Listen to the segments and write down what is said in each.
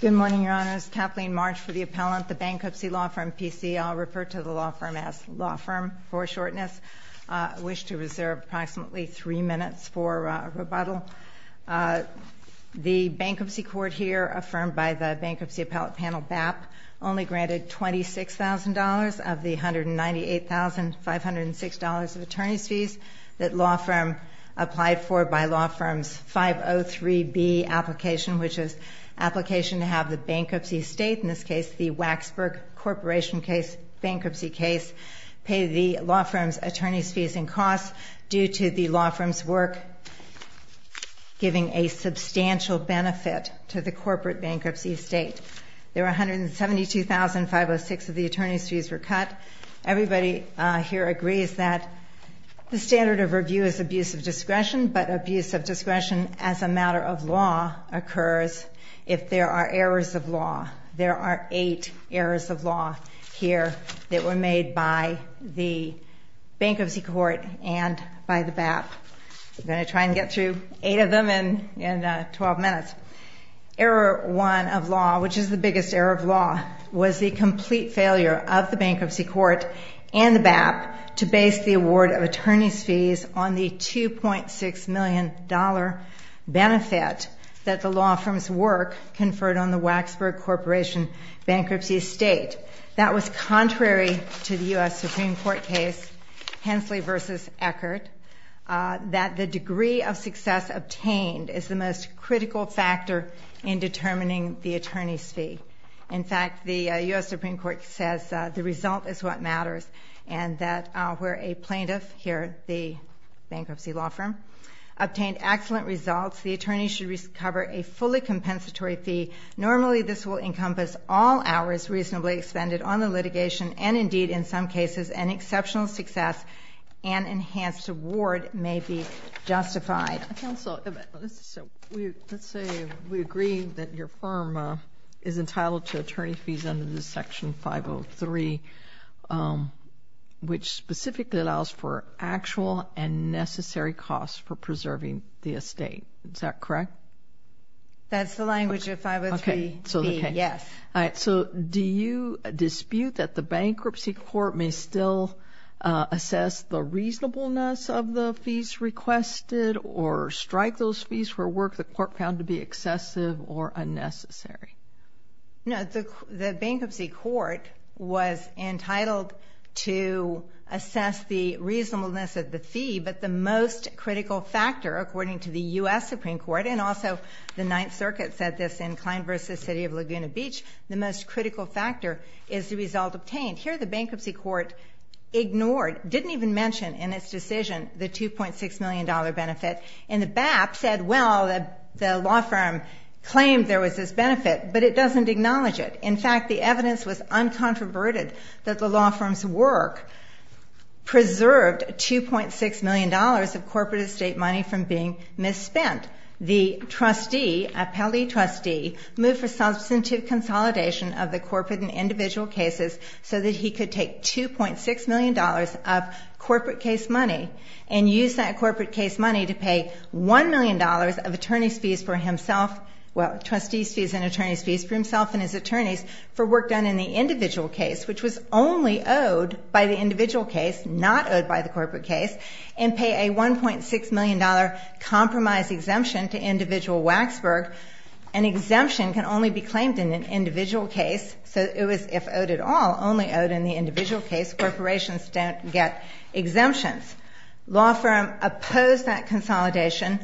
Good morning, Your Honors. Kathleen March for the Appellant, the Bankruptcy Law Firm, P.C. I'll refer to the law firm as law firm for shortness. I wish to reserve approximately three minutes for rebuttal. The Bankruptcy Court here, affirmed by the Bankruptcy Appellate Panel, BAP, only granted $26,000 of the $198,506 of attorney's fees that law firm applied for by law firm's 503B application, which is application to have the bankruptcy estate, in this case the Waxburg Corporation case, bankruptcy case, pay the law firm's attorney's fees and costs due to the law firm's work giving a substantial benefit to the corporate bankruptcy estate. There were $172,506 of the attorney's fees were cut. Everybody here agrees that the standard of review is abuse of discretion, but abuse of discretion as a matter of law occurs if there are errors of law. There are eight errors of law here that were made by the Bankruptcy Court and by the BAP. We're going to try and get through eight of them in 12 minutes. Error one of law, which is the biggest error of law, was the complete failure of the Bankruptcy Court and the BAP to base the award of attorney's fees on the $2.6 million benefit that the law firm's work conferred on the Waxburg Corporation bankruptcy estate. That was contrary to the U.S. Supreme Court case, Hensley v. Eckert, that the degree of success obtained is the most critical factor in determining the attorney's The U.S. Supreme Court says the result is what matters and that where a plaintiff, here the bankruptcy law firm, obtained excellent results, the attorney should recover a fully compensatory fee. Normally this will encompass all hours reasonably expended on the litigation and indeed in some cases an exceptional success and enhanced award may be justified. Counsel, let's say we agree that your firm is entitled to attorney's fees under this section 503, which specifically allows for actual and necessary costs for preserving the estate. Is that correct? That's the language of 503B, yes. All right, so do you dispute that the Bankruptcy Court may still assess the reasonableness of the fees requested or strike those fees for work the court found to be excessive or unnecessary? No, the Bankruptcy Court was entitled to assess the reasonableness of the fee, but the most critical factor, according to the U.S. Supreme Court, and also the Ninth Circuit said this in Klein v. City of Laguna Beach, the most critical factor is the result obtained. Here the Bankruptcy Court ignored, didn't even mention in its decision the $2.6 million benefit and the BAP said, well, the law firm claimed there was this benefit, but it doesn't acknowledge it. In fact, the evidence was uncontroverted that the law firm's work preserved $2.6 million of corporate estate money from being misspent. The trustee, appellee trustee, moved for substantive consolidation of the corporate and individual cases so that he could take $2.6 million of corporate case money and use that corporate case money to pay $1 million of attorneys' fees for himself, well, trustees' fees and attorneys' fees for himself and his attorneys for work done in the individual case, which was only owed by the individual case, not owed by the corporate case, and pay a $1.6 million compromise exemption to individual Waxburg. An exemption can only be claimed in an individual case, so it was, if owed at all, only owed in the individual case. Corporations don't get exemptions. Law firm opposed that consolidation,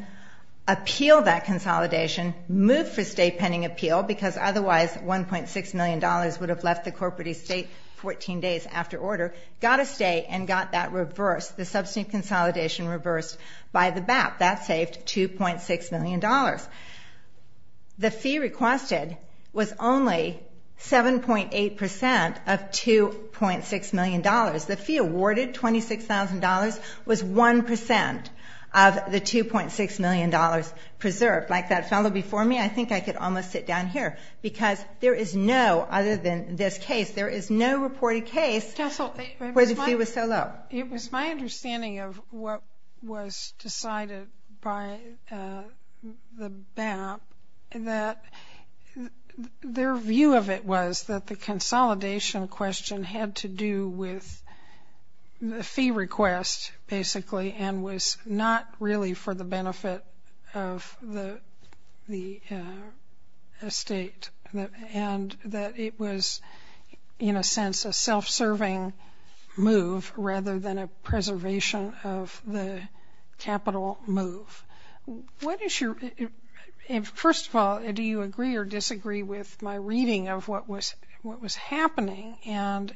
appealed that consolidation, moved for state pending appeal because otherwise $1.6 million would have left the corporate estate 14 days after order, got a state and got that reversed, the substantive consolidation reversed by the BAP. That saved $2.6 million. The fee requested was only 7.8% of $2.6 million. The fee awarded, $26,000, was 1% of the $2.6 million preserved. Like that fellow before me, I think I could almost sit down here because there is no, other than this case, there is no reported case where the fee was so low. It was my understanding of what was decided by the BAP that their view of it was that the consolidation question had to do with the fee request, basically, and was not really for the benefit of the estate, and that it was, in a sense, a self-serving move rather than a preservation of the capital move. What is your, first of all, do you agree or disagree with my reading of what was happening, and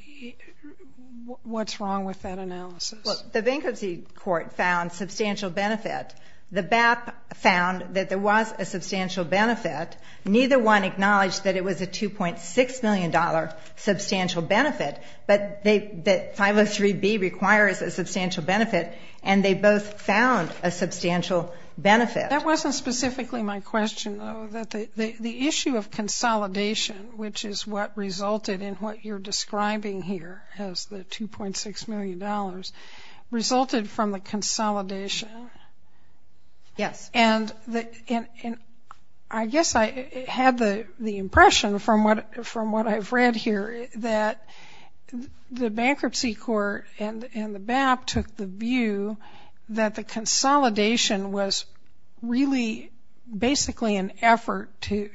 what's wrong with that analysis? Well, the bankruptcy court found substantial benefit. The BAP found that there was a substantial benefit. Neither one acknowledged that it was a $2.6 million substantial benefit, but 503B requires a substantial benefit, and they both found a substantial benefit. That wasn't specifically my question, though. The issue of consolidation, which is what resulted in what you're describing here as the $2.6 million, resulted from the consolidation? Yes. And I guess I had the impression, from what I've read here, that the bankruptcy court and the BAP took the view that the consolidation was really basically an effort to,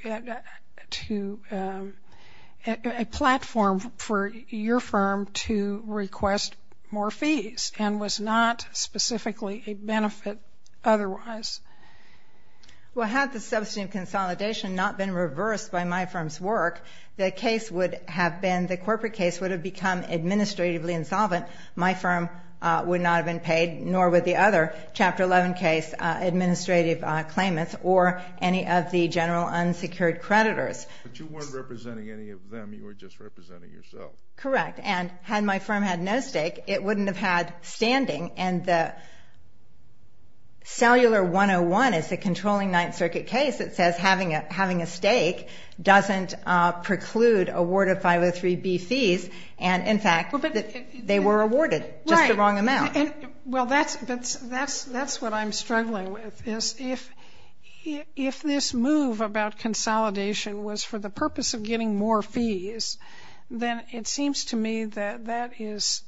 a platform for your firm to request more fees, and was not specifically a benefit otherwise. Well, had the substantive consolidation not been reversed by my firm's work, the case would have been, the corporate case would have become administratively insolvent. My firm would not have been paid, nor would the other Chapter 11 case administrative claimants or any of the general unsecured creditors. But you weren't representing any of them. You were just representing yourself. Correct. And had my firm had no stake, it wouldn't have had standing, and the cellular 101 is a controlling Ninth Circuit case that says having a stake doesn't preclude a ward of 503B fees. And, in fact, they were awarded just the wrong amount. Well, that's what I'm struggling with, is if this move about consolidation was for the purpose of getting more fees, then it seems to me that that is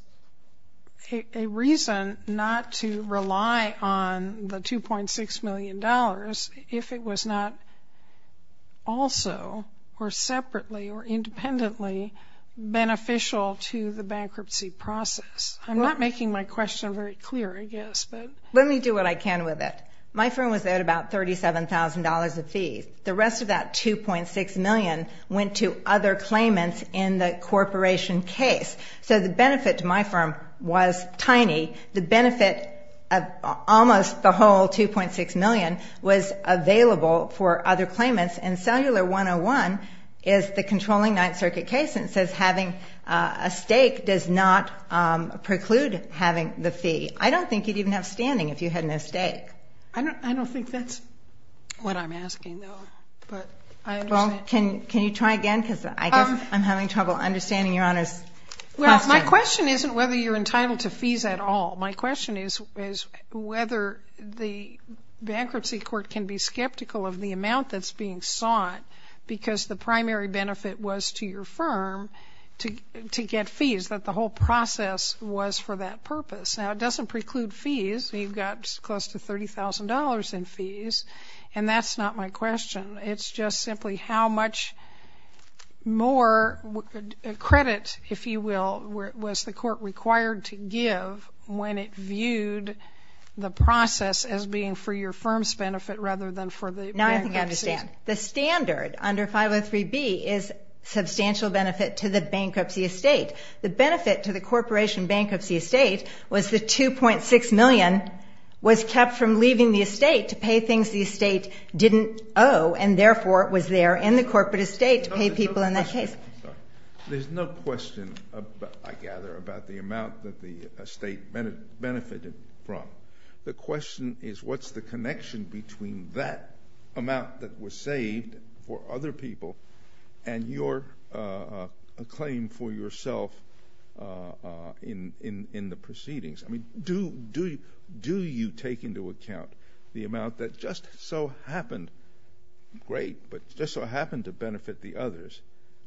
a reason not to rely on the $2.6 million if it was not also, or separately, or independently beneficial to the bankruptcy process. I'm not making my question very clear, I guess, but... Let me do what I can with it. My firm was at about $37,000 of fees. The rest of that $2.6 million went to other claimants in the corporation case. So the benefit to my firm was tiny. The benefit of almost the whole $2.6 million was available for other claimants, and cellular 101 is the controlling Ninth Circuit case, and it says having a stake does not preclude having the fee. I don't think you'd even have standing if you had no stake. I don't think that's what I'm asking, though. But I understand... Well, can you try again? Because I guess I'm having trouble understanding Your Honor's question. Well, my question isn't whether you're entitled to fees at all. My question is whether the bankruptcy court can be skeptical of the amount that's being sought because the primary benefit was to your firm to get fees, that the whole process was for that purpose. Now, it doesn't preclude fees. You've got close to $30,000 in fees, and that's not my question. It's just simply how much more credit, if you will, was the court required to give when it viewed the process as being for your firm's benefit rather than for the bankruptcy's? No, I think I understand. The standard under 503B is substantial benefit to the bankruptcy estate. The benefit to the corporation bankruptcy estate was the $2.6 million was kept from the bankruptcy estate. There's no question, I gather, about the amount that the estate benefited from. The question is what's the connection between that amount that was saved for other people and your claim for yourself in the proceedings? I mean, do you take into account the amount that just so happened, great, but just so happened to benefit the others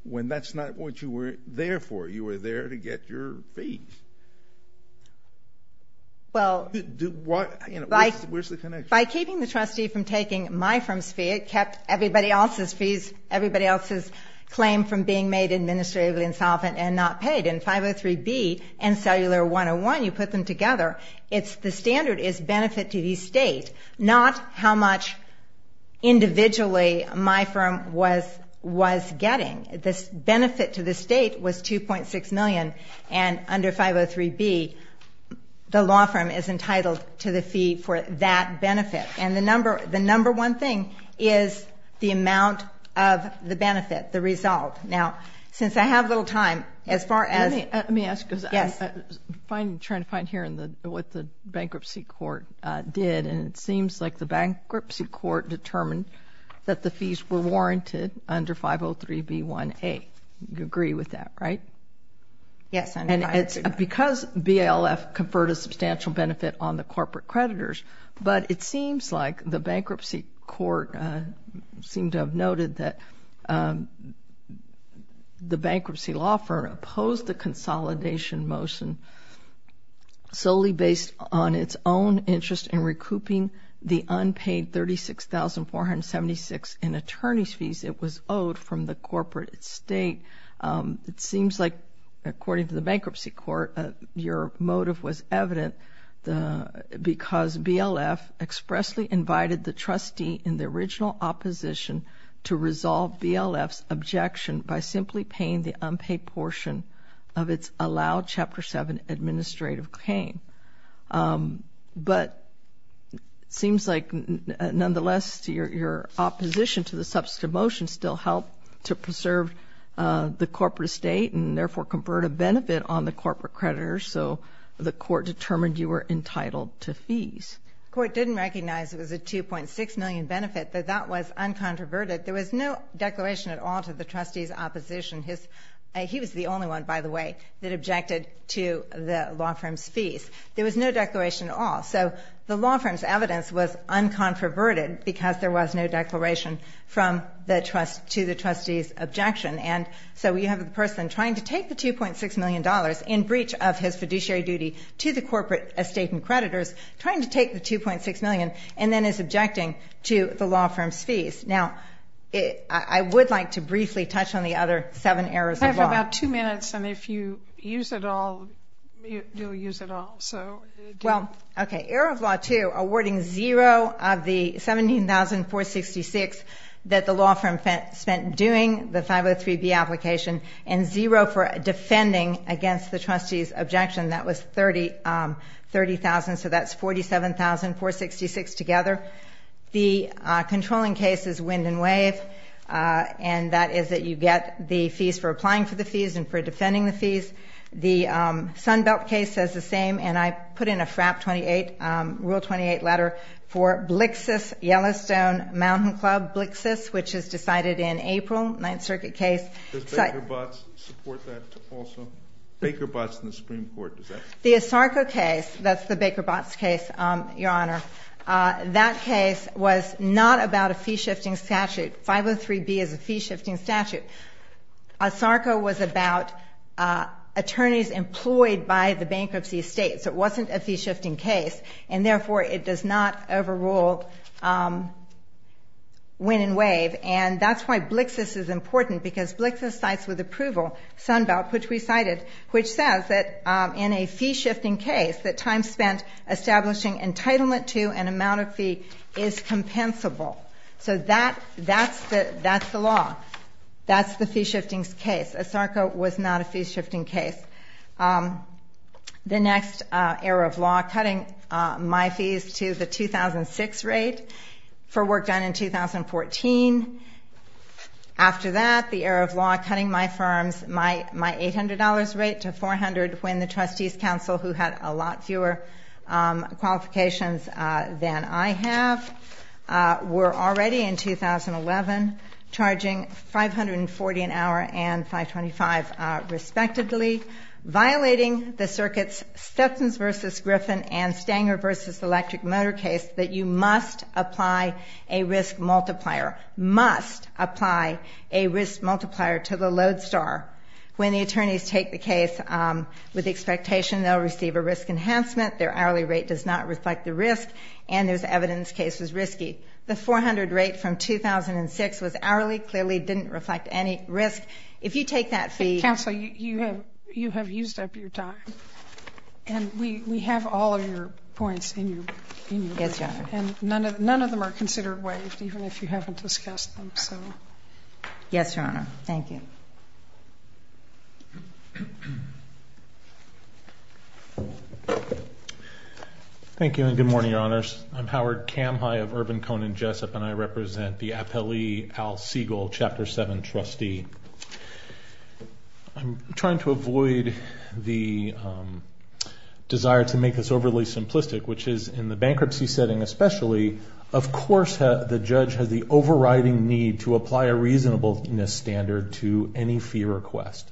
when that's not what you were there for? You were there to get your fees. By keeping the trustee from taking my firm's fee, it kept everybody else's fees, everybody else's claim from being made administratively insolvent and not paid. In 503B and Cellular 101, you put them together, the standard is benefit to the estate, not how much individually my firm was getting. The benefit to the estate was $2.6 million and under 503B, the law firm is entitled to the fee for that benefit. The number one thing is the amount of the benefit, the result. I'm trying to find here what the bankruptcy court did, and it seems like the bankruptcy court determined that the fees were warranted under 503B1A. You agree with that, right? Yes, I do. Because BLF conferred a substantial benefit on the corporate creditors, but it seems like the bankruptcy court seemed to have noted that the bankruptcy law firm opposed the consolidation motion solely based on its own interest in recouping the unpaid $36,476 in attorney's fees it was owed from the corporate estate. It seems like, according to the bankruptcy court, your motive was evident because BLF expressly invited the trustee in the original opposition to resolve BLF's objection by simply paying the unpaid portion of its allowed Chapter 7 administrative claim. But it seems like, nonetheless, your opposition to the substantive motion still helped to preserve the corporate estate and, therefore, conferred a benefit on the corporate creditors, so the court determined you were entitled to fees. The court didn't recognize it was a $2.6 million benefit, that that was uncontroverted. There was no declaration at all to the trustee's opposition. He was the only one, by the way, that objected to the law firm's fees. There was no declaration at all. So the law firm's evidence was uncontroverted because there was no declaration to the trustee's objection. And so you have a person trying to take the $2.6 million in breach of his fiduciary duty to the corporate estate and creditors, trying to take the $2.6 million, and then is objecting to the law firm's fees. Now, I would like to briefly touch on the other seven errors of law. I have about two minutes, and if you use it all, you'll use it all. Well, okay, error of law 2, awarding zero of the $17,466 that the law firm spent doing the 503B application, and zero for defending against the trustee's objection. That was $30,000, so that's $47,466 together. The controlling case is wind and wave, and that is that you get the fees for applying for the fees and for defending the fees. The Sunbelt case says the same, and I put in a FRAP 28, Rule 28 letter for Blixus Yellowstone Mountain Club, Blixus, which is decided in the Ninth Circuit case. Does Baker-Botts support that also? Baker-Botts and the Supreme Court, does that? The Asarco case, that's the Baker-Botts case, Your Honor, that case was not about a fee-shifting statute. 503B is a fee-shifting statute. Asarco was about attorneys employed by the bankruptcy estate, so it wasn't a fee-shifting case, and therefore, it does not overrule wind and wave, which is important because Blixus cites with approval Sunbelt, which we cited, which says that in a fee-shifting case, that time spent establishing entitlement to an amount of fee is compensable. So that's the law. That's the fee-shifting case. Asarco was not a fee-shifting case. The next era of law, cutting my fees to the 2006 rate for work done in 2014. After that, the era of law, cutting my firms, my $800 rate to $400 when the trustees counsel, who had a lot fewer qualifications than I have, were already in 2011, charging $540 an hour and $525, respectively, violating the circuit's Stetsons v. Griffin and Stanger v. Electric and Motor case, that you must apply a risk multiplier, must apply a risk multiplier to the load star. When the attorneys take the case with the expectation they'll receive a risk enhancement, their hourly rate does not reflect the risk, and there's evidence the case was risky. The $400 rate from 2006 was hourly, clearly didn't reflect any risk. If you take that fee... Yes, Your Honor. And none of them are considered waived, even if you haven't discussed them, so... Yes, Your Honor. Thank you. Thank you, and good morning, Your Honors. I'm Howard Kamhai of Urban Cone and Jessup, and I represent the Appellee Al Siegel Chapter 7 trustee. I'm trying to avoid the desire to make this overly simplistic, which is, in the bankruptcy setting especially, of course the judge has the overriding need to apply a reasonableness standard to any fee request.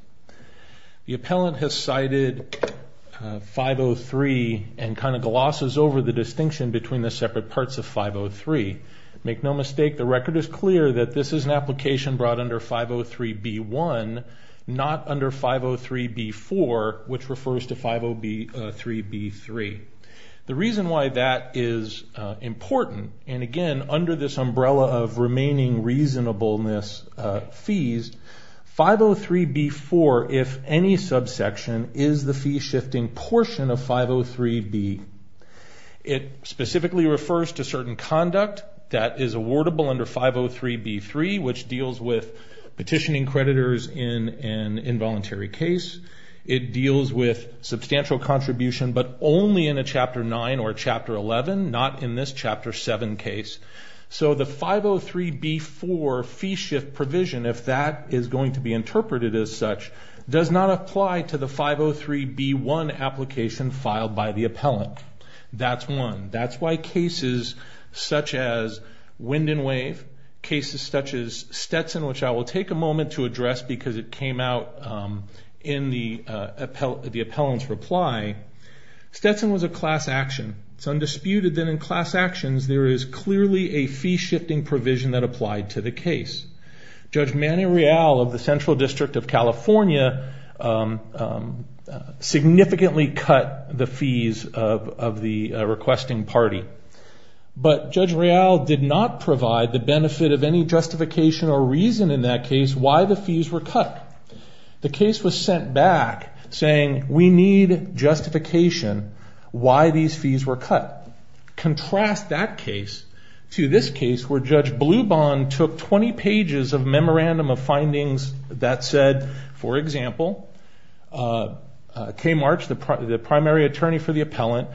The appellant has cited 503 and kind of glosses over the distinction between the separate parts of 503. Make no mistake, the record is clear that this is an application brought under 503B1, not under 503B4, which refers to 503B3. The reason why that is important, and again, under this umbrella of remaining reasonableness fees, 503B4, if any subsection, is the fee shifting portion of 503B. It specifically refers to certain conduct that is awardable under 503B3, which deals with petitioning creditors in an involuntary case. It deals with substantial contribution, but only in a Chapter 9 or Chapter 11, not in this Chapter 7 case. So the 503B4 fee shift provision, if that is going to be interpreted as such, does not apply to the 503B1 application filed by the appellant. That's one. That's why cases such as Wind and Wave, cases such as Stetson, which I will take a moment to address because it came out in the appellant's reply. Stetson was a class action. It's undisputed that in class actions there is clearly a fee shifting provision that applied to the case. Judge Manny Real of the Central District of California significantly cut the fees of the requesting party. But Judge Real did not provide the benefit of any justification or reason in that case why the fees were cut. The case was sent back saying we need justification why these fees were cut. Contrast that case to this case where Judge Blubahn took 20 pages of memorandum of findings that said, for example, K. March, the primary attorney for the appellant,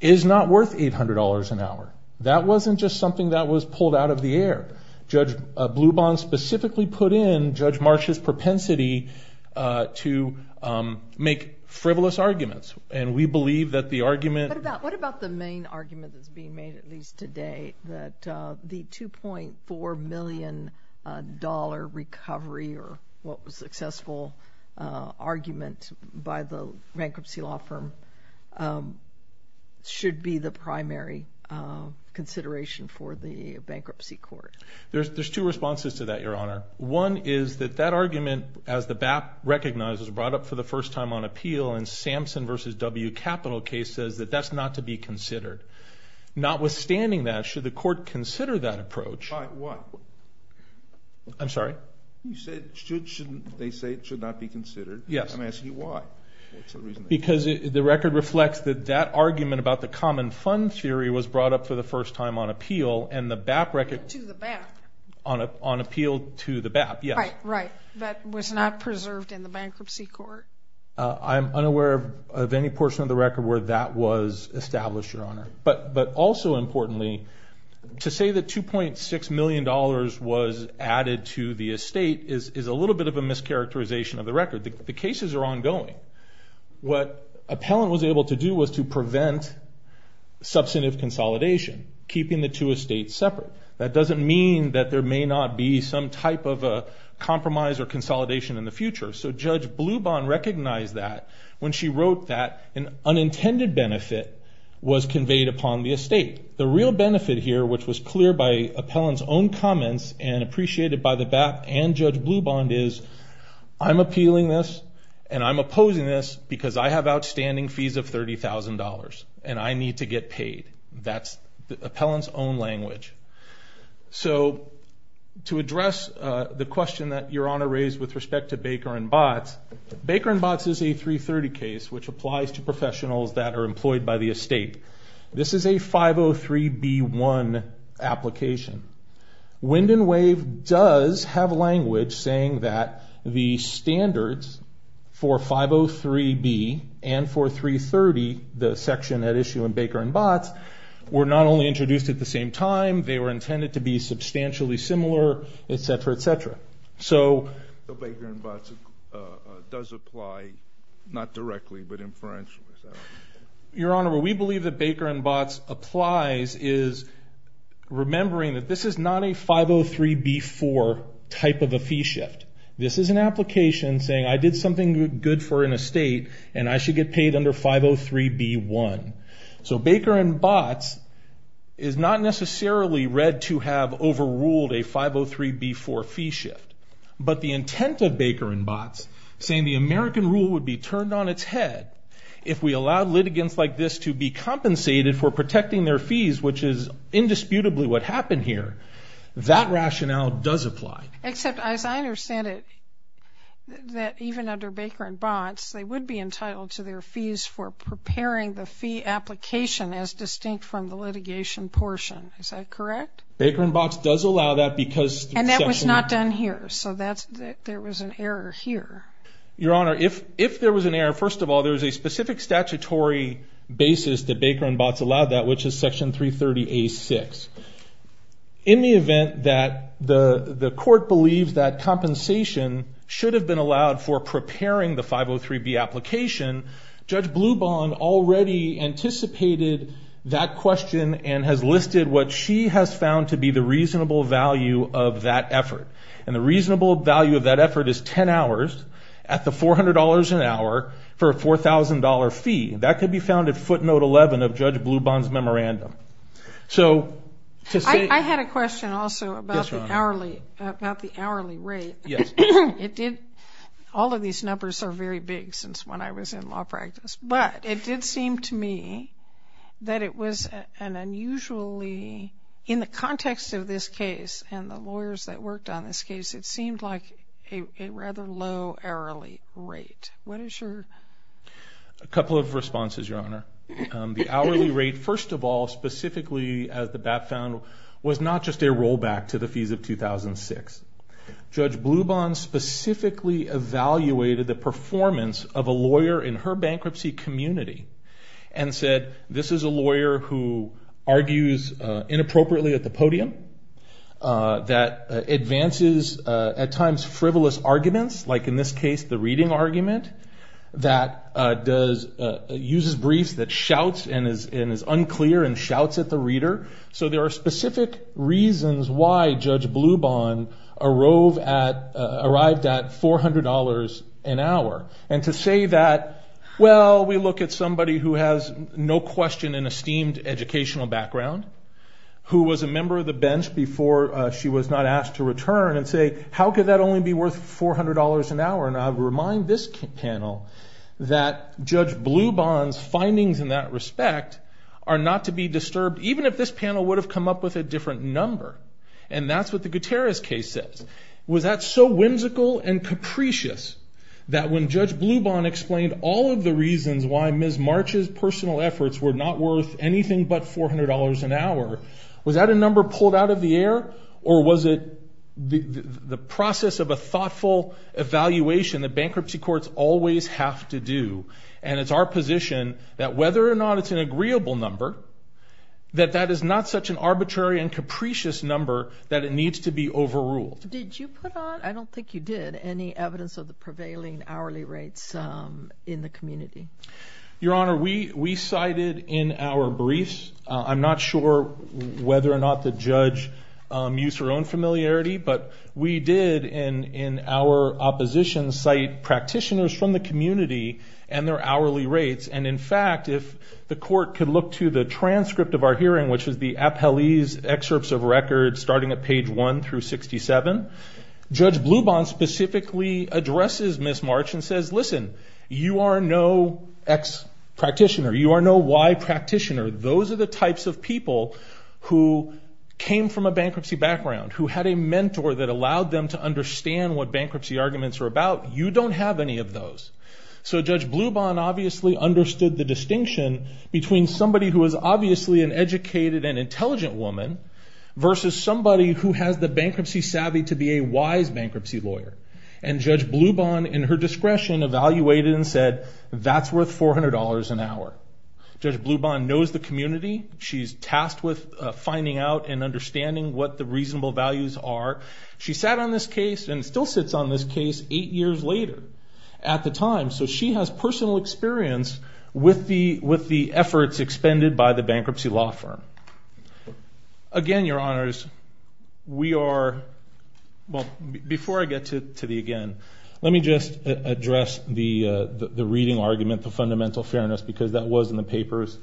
is not worth $800 an hour. That wasn't just something that was pulled out of the air. Judge Blubahn specifically put in Judge March's propensity to make frivolous arguments. And we believe that the argument... What about the main argument that's being made, at least today, that the $2.4 million recovery, or what was a successful argument by the bankruptcy law firm, is not worth $800 should be the primary consideration for the bankruptcy court? There's two responses to that, Your Honor. One is that that argument, as the BAP recognizes, brought up for the first time on appeal in Samson v. W. Capital case, says that that's not to be considered. Notwithstanding that, should the court consider that approach... By what? I'm sorry? You said should, shouldn't, they say it should not be considered. Yes. I'm asking you why? Because the record reflects that that argument about the common fund theory was brought up for the first time on appeal, and the BAP record... To the BAP. On appeal to the BAP, yes. Right, right. That was not preserved in the bankruptcy court. I'm unaware of any portion of the record where that was established, Your Honor. But also importantly, to say that $2.6 million was added to the estate is a little bit of a mischaracterization of the record. The cases are ongoing. What Appellant was able to do was to prevent substantive consolidation, keeping the two estates separate. That doesn't mean that there may not be some type of a compromise or consolidation in the future. So Judge Blubond recognized that when she wrote that an unintended benefit was conveyed upon the estate. The real benefit here, which was clear by Appellant's own comments and appreciated by the BAP and Judge Blubond, is I'm appealing this, and I'm opposing this because I have outstanding fees of $30,000, and I need to get paid. That's Appellant's own language. So to address the question that Your Honor raised with respect to Baker and Botts, Baker and Botts is a 330 case, which applies to professionals that are employed by the estate. This is a 503B1 application. Wind and Wave does have language saying that the standards for 503B and for 330, the section at issue in Baker and Botts, were not only introduced at the same time, they were intended to be substantially similar, etc., etc. So Baker and Botts does apply, not directly, but inferentially. Your Honor, what we believe that Baker and Botts applies is remembering that this is not a 503B4 type of a fee shift. This is an application saying I did something good for an estate, and I should get paid under 503B1. So Baker and Botts is not necessarily read to have overruled a 503B4 fee shift. But the intent of Baker and Botts, saying the American rule would be turned on its head if we allowed litigants like this to be compensated for protecting their fees, which is indisputably what happened here, that rationale does apply. Except as I understand it, that even under Baker and Botts, they would be entitled to their fees for preparing the fee application as distinct from the litigation portion. Is that correct? Baker and Botts does allow that because... And that was not done here. So there was an error here. Your Honor, if there was an error, first of all, there was a specific statutory basis that Baker and Botts allowed that, which is Section 330A6. In the event that the court believes that compensation should have been allowed for preparing the 503B application, Judge Blubahn already anticipated that question and has listed what she has found to be the at the $400 an hour for a $4,000 fee. That could be found at footnote 11 of Judge Blubahn's memorandum. So to say... I had a question also about the hourly rate. Yes. It did... All of these numbers are very big since when I was in law practice. But it did seem to me that it was an unusually... In the context of this case and the lawyers that were involved, it seemed to me that the hourly rate... What is your... A couple of responses, Your Honor. The hourly rate, first of all, specifically as the BAP found, was not just a rollback to the fees of 2006. Judge Blubahn specifically evaluated the performance of a lawyer in her bankruptcy community and said, this is a lawyer who argues inappropriately at the podium, that advances at times frivolous arguments, like in this case, the reading argument that uses briefs that shouts and is unclear and shouts at the reader. So there are specific reasons why Judge Blubahn arrived at $400 an hour. And to say that, well, we look at somebody who has no question an esteemed educational background, who was a member of the bench before she was not asked to return and say, how could that only be worth $400 an hour? And I would remind this panel that Judge Blubahn's findings in that respect are not to be disturbed, even if this panel would have come up with a different number. And that's what the Gutierrez case says. Was that so whimsical and capricious that when Judge Blubahn explained all of the reasons why Ms. March's personal efforts were not worth anything but $400 an hour, was that a number pulled out of the process of a thoughtful evaluation that bankruptcy courts always have to do? And it's our position that whether or not it's an agreeable number, that that is not such an arbitrary and capricious number that it needs to be overruled. Did you put on, I don't think you did, any evidence of the prevailing hourly rates in the community? Your Honor, we cited in our briefs, I'm not sure whether or not the judge used her own familiarity, but we did in our opposition cite practitioners from the community and their hourly rates. And in fact, if the court could look to the transcript of our hearing, which is the appellee's excerpts of records starting at page 1 through 67, Judge Blubahn specifically addresses Ms. March and says, listen, you are no X practitioner. You are no Y practitioner. Those are the types of people who came from a bankruptcy background, who had a mentor that allowed them to understand what bankruptcy arguments were about. You don't have any of those. So Judge Blubahn obviously understood the distinction between somebody who was obviously an educated and intelligent woman versus somebody who has the bankruptcy savvy to be a wise bankruptcy lawyer. And Judge Blubahn, in her discretion, evaluated and said, that's worth $400 an hour. Judge Blubahn knows the community. She's tasked with finding out and understanding what the reasonable values are. She sat on this case and still sits on this case eight years later at the time, so she has personal experience with the efforts expended by the bankruptcy law firm. Again, Your Honors, we are, well, before I get to the again, let me just address the reading argument, the fundamental fairness, because that was in the papers.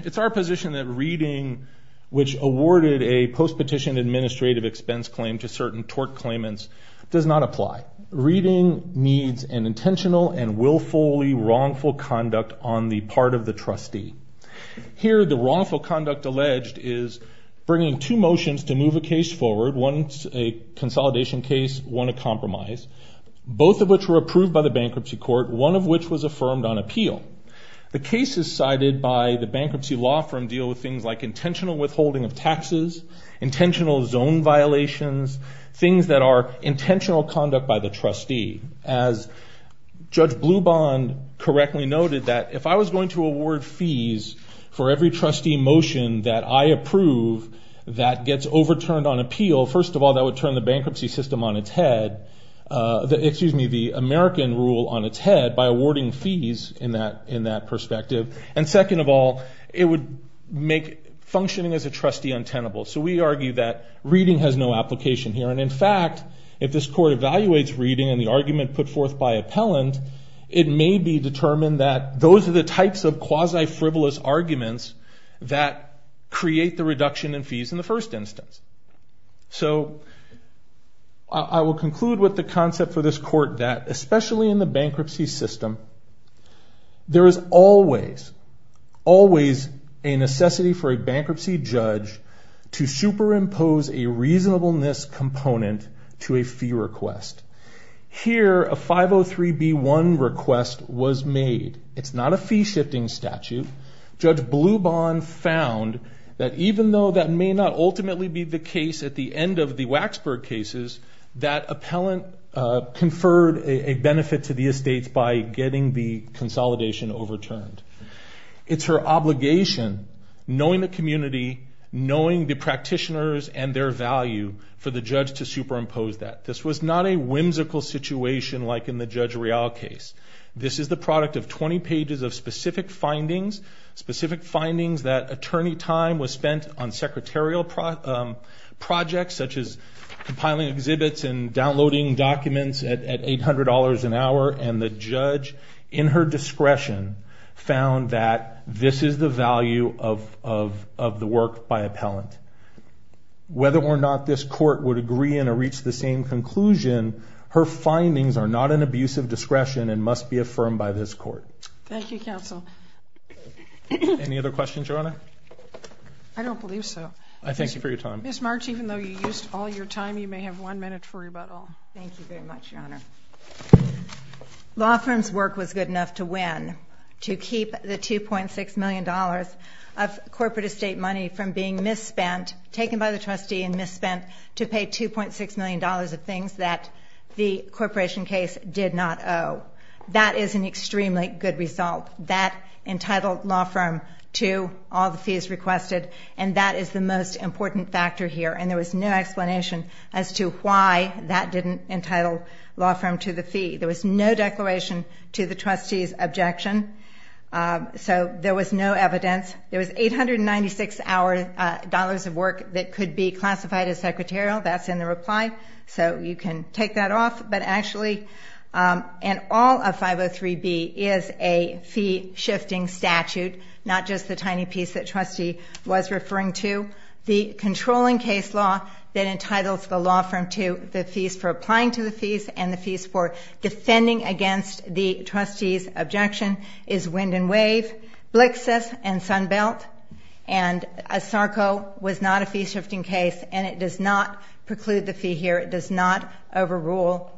It's our position that reading, which awarded a post-petition administrative expense claim to certain tort claimants, does not apply. Reading needs an intentional and willfully wrongful conduct on the part of the trustee. Here, the wrongful conduct alleged is bringing two motions to move a case forward, one a consolidation case, one a compromise, both of which were approved by the bankruptcy court, one of which was affirmed on appeal. The cases cited by the bankruptcy law firm deal with things like intentional withholding of taxes, intentional zone violations, things that are intentional conduct by the trustee. As Judge Blubahn correctly noted, that if I was going to award fees for every trustee motion that I approve that gets overturned on appeal, first of all, that would turn the bankruptcy system on its head, excuse me, the American rule on its head, by awarding fees in that perspective. And second of all, it would make functioning as a trustee untenable. So we argue that reading has no application here. And in fact, if this court evaluates reading and the argument put forth by appellant, it may be determined that those are the types of quasi-frivolous arguments that create the reduction in fees in the first instance. So I will conclude with the concept for this court that, especially in the bankruptcy system, there is always, always a necessity for a bankruptcy judge to superimpose a reasonableness component to a fee request. Here, a 503B1 request was made. It's not a fee-shifting statute. Judge Blubahn found that even though that may not ultimately be the case at the end of the Waxburg cases, that appellant conferred a benefit to the estates by getting the consolidation overturned. It's her obligation, knowing the community, knowing the practitioners and their value, for the judge to superimpose that. This was not a whimsical situation like in the specific findings that attorney time was spent on secretarial projects, such as compiling exhibits and downloading documents at $800 an hour, and the judge, in her discretion, found that this is the value of the work by appellant. Whether or not this court would agree and reach the same conclusion, her findings are not an abuse of discretion and must be Any other questions, Your Honor? I don't believe so. I thank you for your time. Ms. March, even though you used all your time, you may have one minute for rebuttal. Thank you very much, Your Honor. Law firms' work was good enough to win, to keep the $2.6 million of corporate estate money from being misspent, taken by the trustee and misspent, to pay $2.6 million of things that the corporation case did not owe. That is an extremely good result. That entitled law firm to all the fees requested, and that is the most important factor here, and there was no explanation as to why that didn't entitle law firm to the fee. There was no declaration to the trustees' objection, so there was no evidence. There was $896 of work that could be classified as secretarial. That's in the reply, so you can take that off, but actually, and all of 503B is a fee-shifting statute, not just the tiny piece that the trustee was referring to. The controlling case law that entitles the law firm to the fees for applying to the fees and the fees for defending against the trustees' objection is Wind and Wave, Blixus, and Sunbelt, and ASARCO was not a fee-shifting case, and it does not preclude the fee here. It does not overrule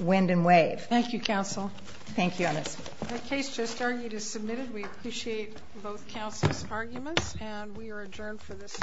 Wind and Wave. Thank you, Counsel. Thank you, Honest. The case just argued is submitted. We appreciate both counsel's arguments, and we are adjourned for this session.